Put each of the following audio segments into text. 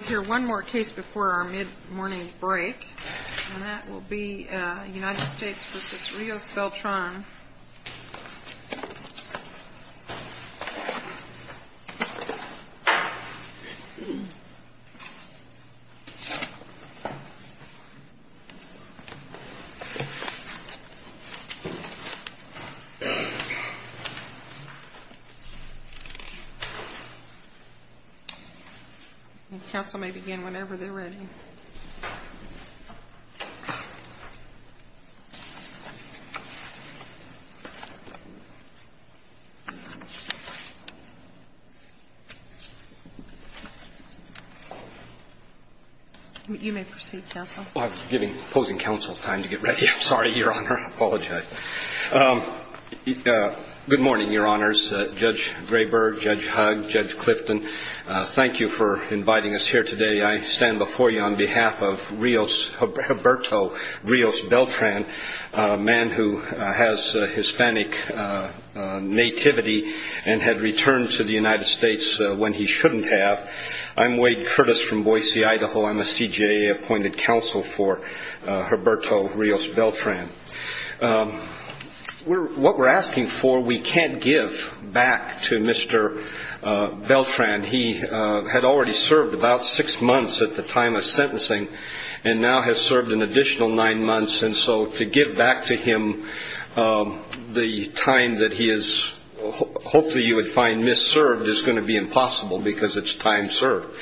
We'll hear one more case before our mid-morning break, and that will be United States v. Rios-Beltran. Council may begin whenever they're ready. You may proceed, counsel. I'm giving opposing counsel time to get ready. I'm sorry, Your Honor. I apologize. Good morning, Your Honors. Judge Graber, Judge Hugg, Judge Clifton, thank you for inviting us here today. I stand before you on behalf of Roberto Rios-Beltran, a man who has Hispanic nativity and had returned to the United States when he shouldn't have. I'm Wade Curtis from Boise, Idaho. I'm a CJA appointed counsel for Roberto Rios-Beltran. What we're asking for we can't give back to Mr. Beltran. He had already served about six months at the time of sentencing and now has served an additional nine months. And so to give back to him the time that he is hopefully you would find misserved is going to be impossible because it's time served.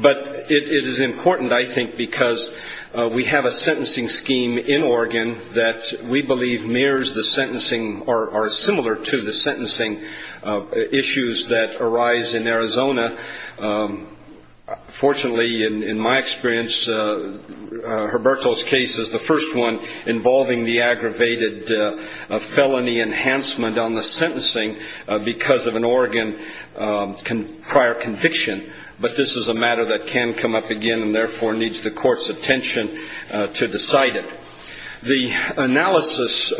But it is important, I think, because we have a sentencing scheme in Oregon that we believe mirrors the sentencing or similar to the sentencing issues that arise in Arizona. Fortunately, in my experience, Roberto's case is the first one involving the aggravated felony enhancement on the sentencing because of an Oregon prior conviction. But this is a matter that can come up again and therefore needs the court's attention to decide it. The analysis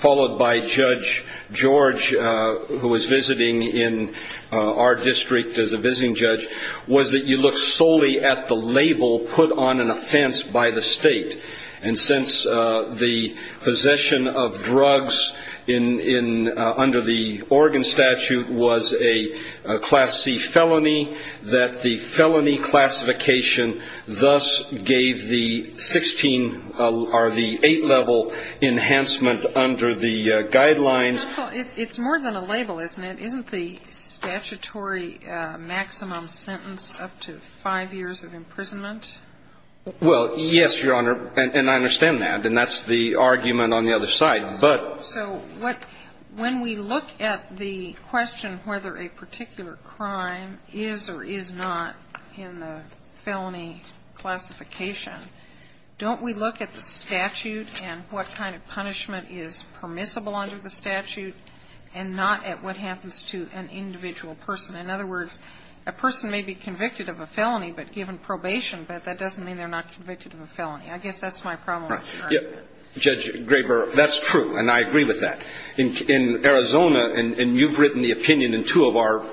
followed by Judge George, who was visiting in our district as a visiting judge, was that you look solely at the label put on an offense by the state. And since the possession of drugs under the Oregon statute was a Class C felony, that the felony classification thus gave the 16 or the 8-level enhancement under the guidelines. It's more than a label, isn't it? Isn't the statutory maximum sentence up to five years of imprisonment? Well, yes, Your Honor. And I understand that. And that's the argument on the other side. But so what – when we look at the question whether a particular crime is or is not in the felony classification, don't we look at the statute and what kind of punishment is permissible under the statute and not at what happens to an individual person? In other words, a person may be convicted of a felony, but given probation, but that doesn't mean they're not convicted of a felony. I guess that's my problem with the argument. Judge Graber, that's true. And I agree with that. In Arizona – and you've written the opinion in two of our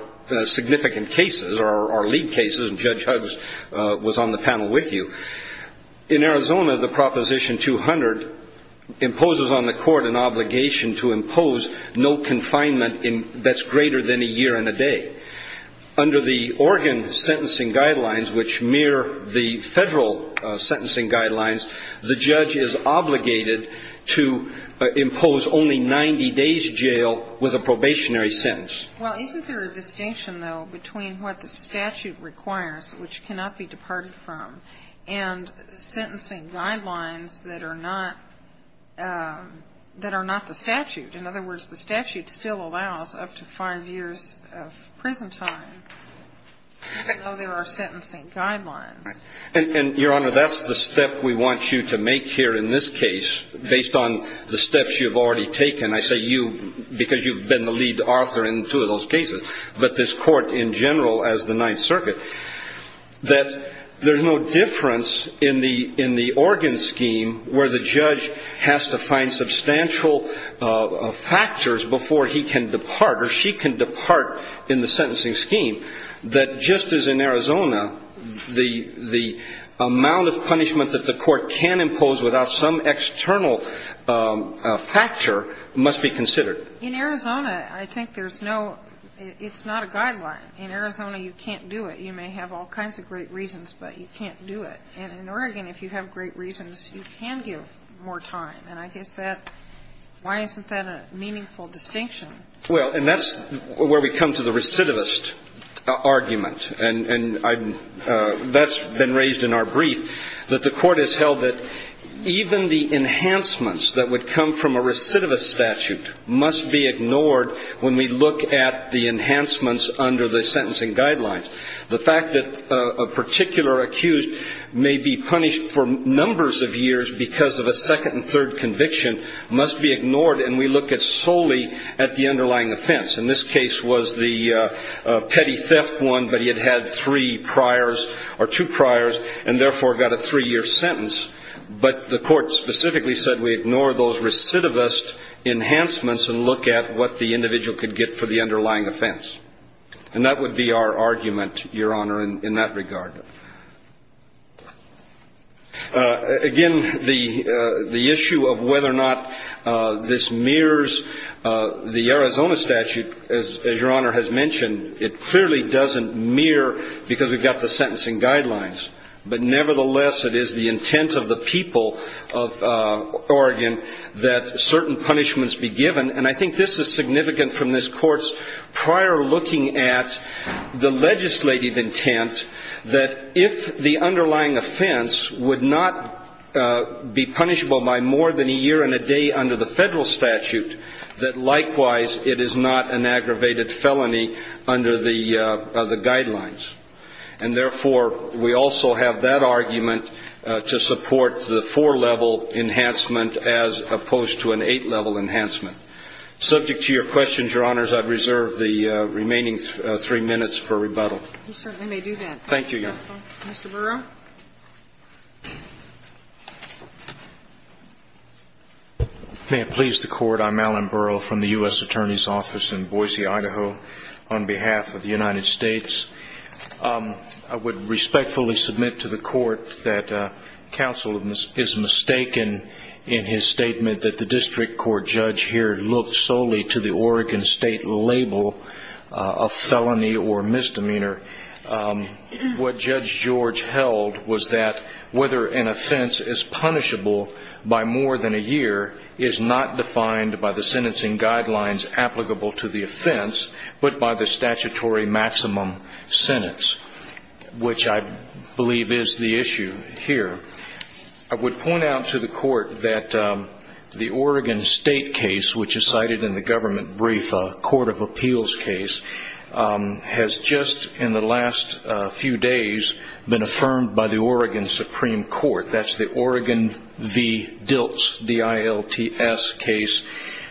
significant cases or our lead cases, and Judge Huggs was on the panel with you. In Arizona, the Proposition 200 imposes on the court an obligation to impose no confinement that's greater than a year and a day. Under the Oregon sentencing guidelines, which mirror the Federal sentencing guidelines, the judge is obligated to impose only 90 days jail with a probationary sentence. Well, isn't there a distinction, though, between what the statute requires, which cannot be departed from, and sentencing guidelines that are not – that are not the statute? In other words, the statute still allows up to five years of prison time, even though there are sentencing guidelines. And, Your Honor, that's the step we want you to make here in this case based on the steps you've already taken. And I say you because you've been the lead author in two of those cases, but this court in general as the Ninth Circuit, that there's no difference in the Oregon scheme where the judge has to find substantial factors before he can depart or she can depart in the sentencing scheme, that just as in Arizona, the amount of punishment that the court can impose without some external factor must be considered. In Arizona, I think there's no – it's not a guideline. In Arizona, you can't do it. You may have all kinds of great reasons, but you can't do it. And in Oregon, if you have great reasons, you can give more time. And I guess that – why isn't that a meaningful distinction? Well, and that's where we come to the recidivist argument. And that's been raised in our brief, that the court has held that even the enhancements that would come from a recidivist statute must be ignored when we look at the enhancements under the sentencing guidelines. The fact that a particular accused may be punished for numbers of years because of a second and third conviction must be ignored, and we look solely at the underlying offense. And this case was the petty theft one, but he had had three priors or two priors and therefore got a three-year sentence. But the court specifically said we ignore those recidivist enhancements and look at what the individual could get for the underlying offense. And that would be our argument, Your Honor, in that regard. Again, the issue of whether or not this mirrors the Arizona statute, as Your Honor has mentioned, it clearly doesn't mirror because we've got the sentencing guidelines. But nevertheless, it is the intent of the people of Oregon that certain punishments be given. And I think this is significant from this court's prior looking at the legislative intent that if the underlying offense would not be punishable by more than a year and a day under the federal statute, that likewise it is not an aggravated felony under the guidelines. And therefore, we also have that argument to support the four-level enhancement as opposed to an eight-level enhancement. Subject to your questions, Your Honors, I reserve the remaining three minutes for rebuttal. You certainly may do that. Thank you, Your Honor. Mr. Burrow? May it please the Court, I'm Alan Burrow from the U.S. Attorney's Office in Boise, Idaho. On behalf of the United States, I would respectfully submit to the Court that counsel is mistaken in his statement that the district court judge here looked solely to the Oregon State label of felony or misdemeanor. What Judge George held was that whether an offense is punishable by more than a year is not defined by the sentencing guidelines applicable to the offense but by the statutory maximum sentence, which I believe is the issue here. I would point out to the Court that the Oregon State case, which is cited in the government brief, a court of appeals case, has just in the last few days been affirmed by the Oregon Supreme Court. That's the Oregon v. Dilts, D-I-L-T-S case.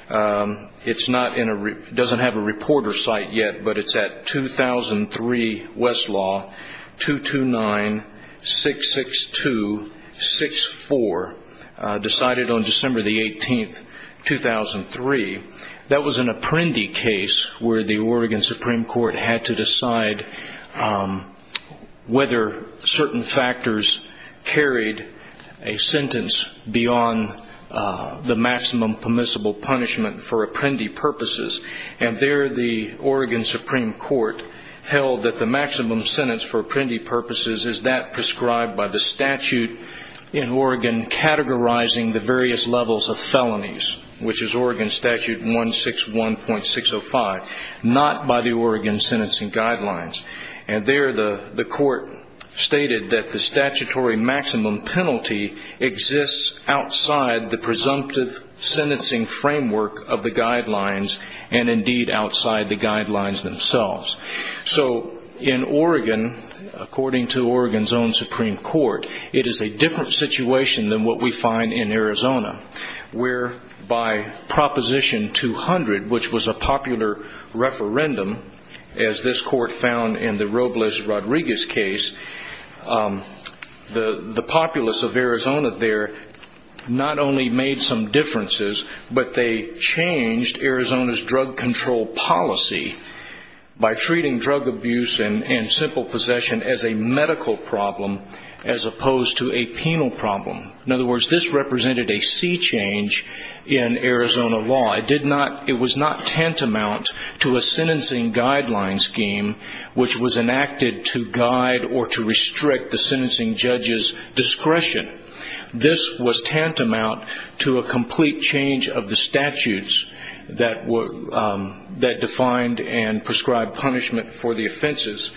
It doesn't have a reporter site yet, but it's at 2003 Westlaw, 229-662-64, decided on December 18, 2003. That was an Apprendi case where the Oregon Supreme Court had to decide whether certain factors carried a sentence beyond the maximum permissible punishment for Apprendi purposes, and there the Oregon Supreme Court held that the maximum sentence for Apprendi purposes is that prescribed by the statute in Oregon categorizing the various levels of felonies, which is Oregon Statute 161.605, not by the Oregon sentencing guidelines. And there the court stated that the statutory maximum penalty exists outside the presumptive sentencing framework of the guidelines and indeed outside the guidelines themselves. So in Oregon, according to Oregon's own Supreme Court, it is a different situation than what we find in Arizona, where by Proposition 200, which was a popular referendum, as this court found in the Robles-Rodriguez case, the populace of Arizona there not only made some differences, but they changed Arizona's drug control policy by treating drug abuse and simple possession as a medical problem as opposed to a penal problem. In other words, this represented a sea change in Arizona law. It was not tantamount to a sentencing guideline scheme, which was enacted to guide or to restrict the sentencing judge's discretion. This was tantamount to a complete change of the statutes that defined and prescribed punishment for the offenses.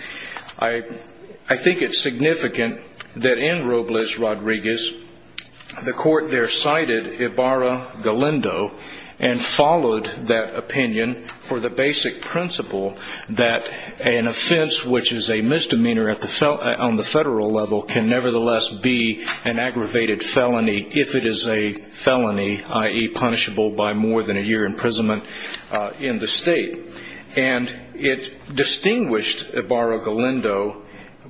I think it's significant that in Robles-Rodriguez, the court there cited Ibarra-Galindo and followed that opinion for the basic principle that an offense which is a misdemeanor on the federal level can nevertheless be an aggravated felony if it is a felony, i.e., punishable by more than a year imprisonment in the state. And it distinguished Ibarra-Galindo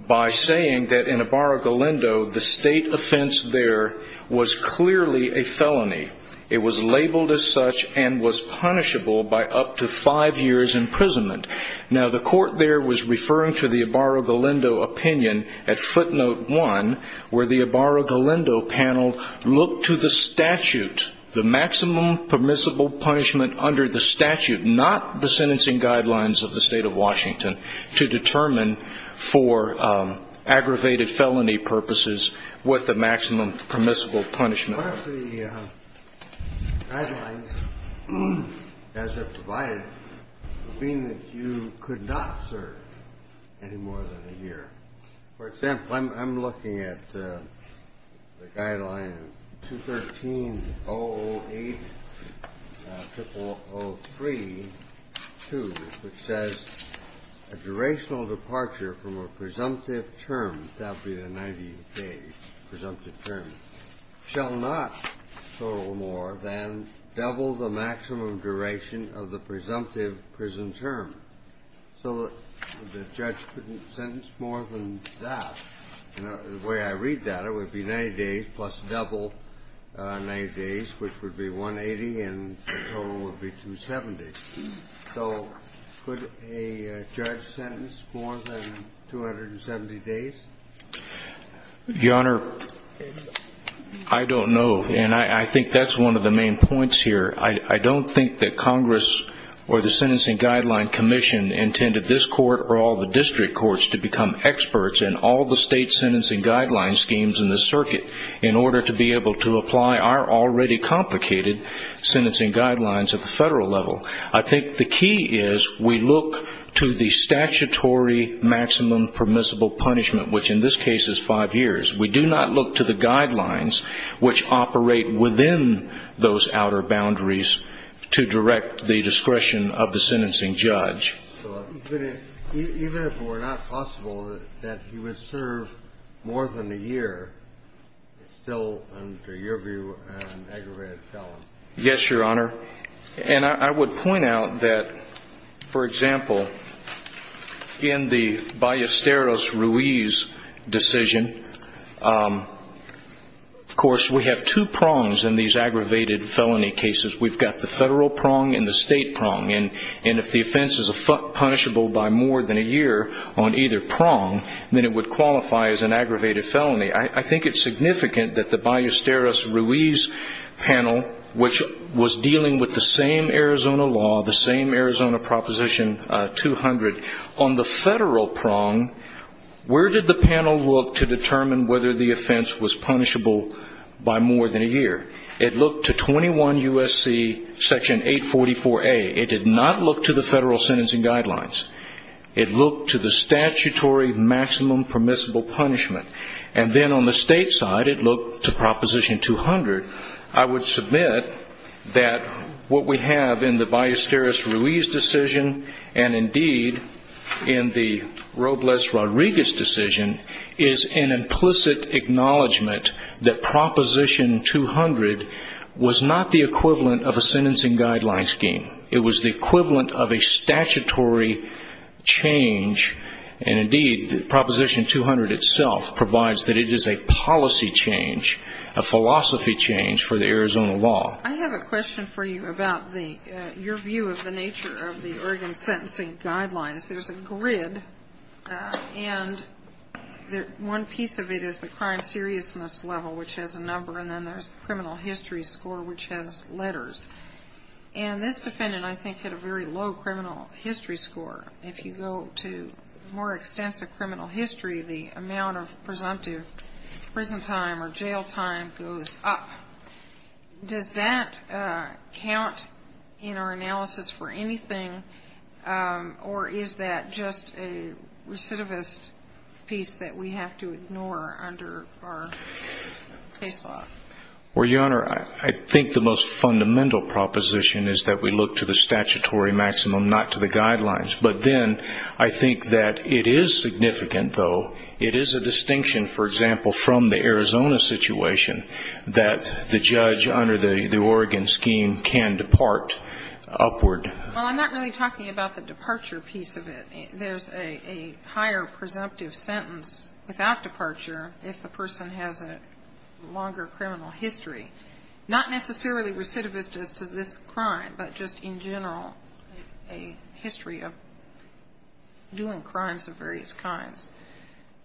by saying that in Ibarra-Galindo, the state offense there was clearly a felony. It was labeled as such and was punishable by up to five years imprisonment. Now, the court there was referring to the Ibarra-Galindo opinion at footnote one, where the Ibarra-Galindo panel looked to the statute, the maximum permissible punishment under the statute, not the sentencing guidelines of the State of Washington, to determine for aggravated felony purposes what the maximum permissible punishment was. What if the guidelines as they're provided mean that you could not serve any more than a year? For example, I'm looking at the guideline 213-008-0003-2, which says, a durational departure from a presumptive term, that would be the 90-page presumptive term, shall not total more than double the maximum duration of the presumptive prison term. So the judge couldn't sentence more than that. The way I read that, it would be 90 days plus double 90 days, which would be 180, and the total would be 270. So could a judge sentence more than 270 days? Your Honor, I don't know. And I think that's one of the main points here. I don't think that Congress or the Sentencing Guideline Commission intended this court or all the district courts to become experts in all the state sentencing guideline schemes in the circuit in order to be able to apply our already complicated sentencing guidelines at the federal level. I think the key is we look to the statutory maximum permissible punishment, which in this case is five years. We do not look to the guidelines, which operate within those outer boundaries, to direct the discretion of the sentencing judge. Even if it were not possible that he would serve more than a year still under your view an aggravated felony? Yes, Your Honor. And I would point out that, for example, in the Ballesteros-Ruiz decision, of course we have two prongs in these aggravated felony cases. We've got the federal prong and the state prong, and if the offense is punishable by more than a year on either prong, then it would qualify as an aggravated felony. I think it's significant that the Ballesteros-Ruiz panel, which was dealing with the same Arizona law, the same Arizona Proposition 200, on the federal prong, where did the panel look to determine whether the offense was punishable by more than a year? It looked to 21 U.S.C. Section 844A. It did not look to the federal sentencing guidelines. It looked to the statutory maximum permissible punishment. And then on the state side, it looked to Proposition 200. I would submit that what we have in the Ballesteros-Ruiz decision, and indeed in the Robles-Rodriguez decision, is an implicit acknowledgment that Proposition 200 was not the equivalent of a sentencing guideline scheme. It was the equivalent of a statutory change. And indeed, Proposition 200 itself provides that it is a policy change, a philosophy change for the Arizona law. I have a question for you about your view of the nature of the Oregon sentencing guidelines. There's a grid, and one piece of it is the crime seriousness level, which has a number, and then there's the criminal history score, which has letters. And this defendant, I think, had a very low criminal history score. If you go to more extensive criminal history, the amount of presumptive prison time or jail time goes up. Does that count in our analysis for anything, or is that just a recidivist piece that we have to ignore under our case law? Well, Your Honor, I think the most fundamental proposition is that we look to the statutory maximum, not to the guidelines. But then I think that it is significant, though. It is a distinction, for example, from the Arizona situation, that the judge under the Oregon scheme can depart upward. Well, I'm not really talking about the departure piece of it. There's a higher presumptive sentence without departure if the person has a longer criminal history, not necessarily recidivist as to this crime, but just in general a history of doing crimes of various kinds.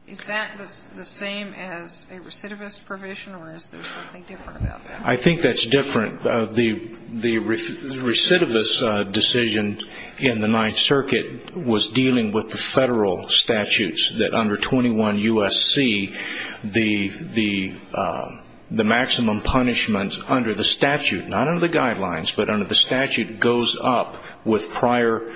Is that the same as a recidivist provision, or is there something different about that? I think that's different. The recidivist decision in the Ninth Circuit was dealing with the federal statutes, that under 21 U.S.C., the maximum punishment under the statute, not under the guidelines, but under the statute goes up with prior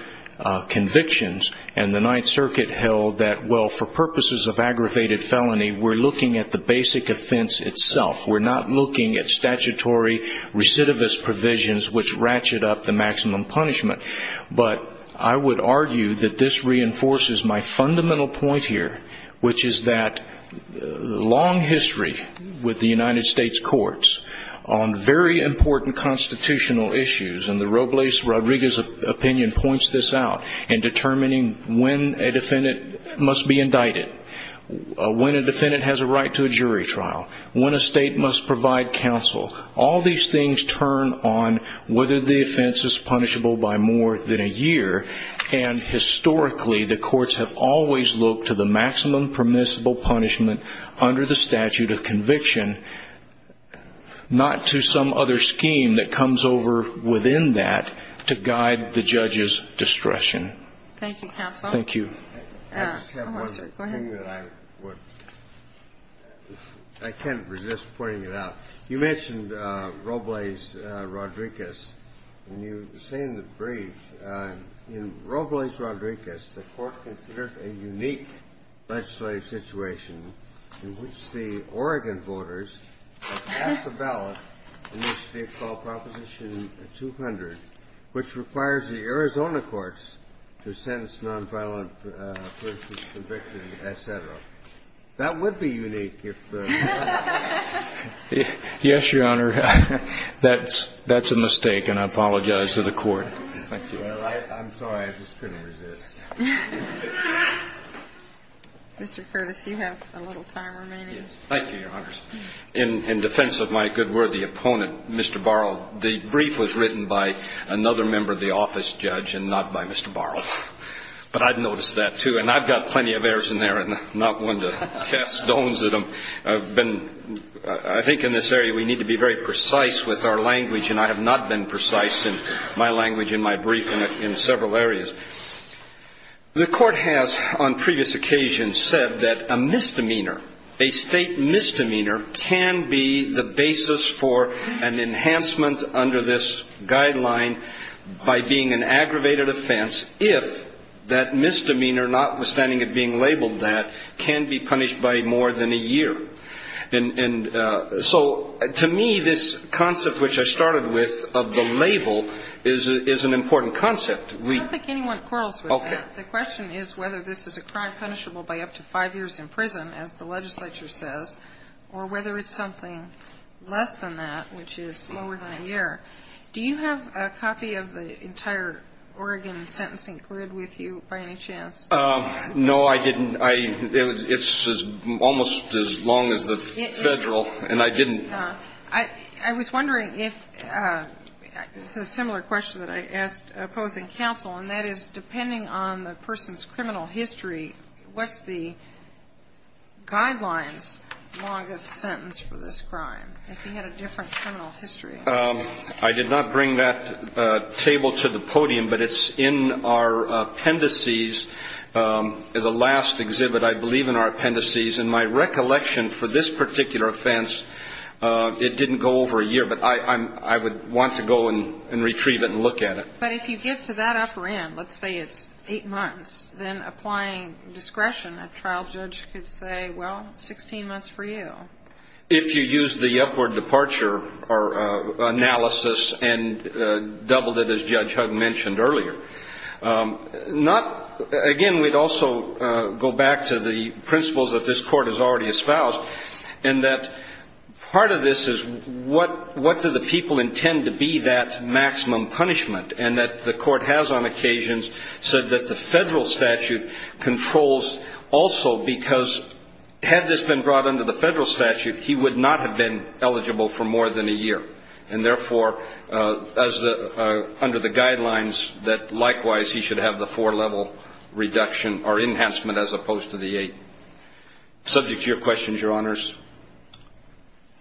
convictions. And the Ninth Circuit held that, well, for purposes of aggravated felony, we're looking at the basic offense itself. We're not looking at statutory recidivist provisions, which ratchet up the maximum punishment. But I would argue that this reinforces my fundamental point here, which is that long history with the United States courts on very important constitutional issues, and the Robles Rodriguez opinion points this out, in determining when a defendant must be indicted, when a defendant has a right to a jury trial, when a state must provide counsel, all these things turn on whether the offense is punishable by more than a year. And historically, the courts have always looked to the maximum permissible punishment under the statute of conviction, not to some other scheme that comes over within that to guide the judge's discretion. Thank you, counsel. Thank you. Go ahead. I just have one thing that I would – I can't resist pointing it out. You mentioned Robles Rodriguez, and you say in the brief, in Robles Rodriguez, the Court considered a unique legislative situation in which the Oregon voters have passed a ballot in which they call Proposition 200, which requires the Arizona courts to sentence nonviolent persons convicted, et cetera. That would be unique if the – Yes, Your Honor. That's a mistake, and I apologize to the Court. Thank you. Well, I'm sorry. I just couldn't resist. Mr. Curtis, you have a little time remaining. Thank you, Your Honor. In defense of my good, worthy opponent, Mr. Borrow, the brief was written by another member of the office, Judge, and not by Mr. Borrow. But I've noticed that, too, and I've got plenty of errors in there, and not one to cast stones at them. I've been – I think in this area we need to be very precise with our language, and I have not been precise in my language in my brief in several areas. The Court has, on previous occasions, said that a misdemeanor, a state misdemeanor, can be the basis for an enhancement under this guideline by being an aggravated offense if that misdemeanor, notwithstanding it being labeled that, can be punished by more than a year. And so, to me, this concept which I started with of the label is an important concept. I don't think anyone quarrels with that. Okay. The question is whether this is a crime punishable by up to five years in prison, as the legislature says, or whether it's something less than that, which is lower than a year. Do you have a copy of the entire Oregon sentencing grid with you, by any chance? No, I didn't. It's almost as long as the federal, and I didn't. I was wondering if, this is a similar question that I asked opposing counsel, and that is, depending on the person's criminal history, what's the guideline's longest sentence for this crime, if he had a different criminal history? I did not bring that table to the podium, but it's in our appendices. It's a last exhibit, I believe, in our appendices. And my recollection for this particular offense, it didn't go over a year, but I would want to go and retrieve it and look at it. But if you get to that upper end, let's say it's eight months, then applying discretion, a trial judge could say, well, 16 months for you. If you use the upward departure analysis and doubled it, as Judge Hug mentioned earlier. Again, we'd also go back to the principles that this court has already espoused, and that part of this is what do the people intend to be that maximum punishment, and that the court has on occasions said that the federal statute controls also, because had this been brought under the federal statute, he would not have been eligible for more than a year. And therefore, under the guidelines, that likewise he should have the four-level reduction or enhancement as opposed to the eight. Subject to your questions, Your Honors.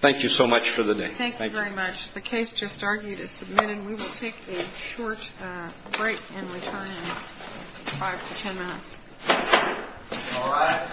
Thank you so much for the day. Thank you very much. The case just argued is submitted. We will take a short break and return in five to ten minutes. All rise.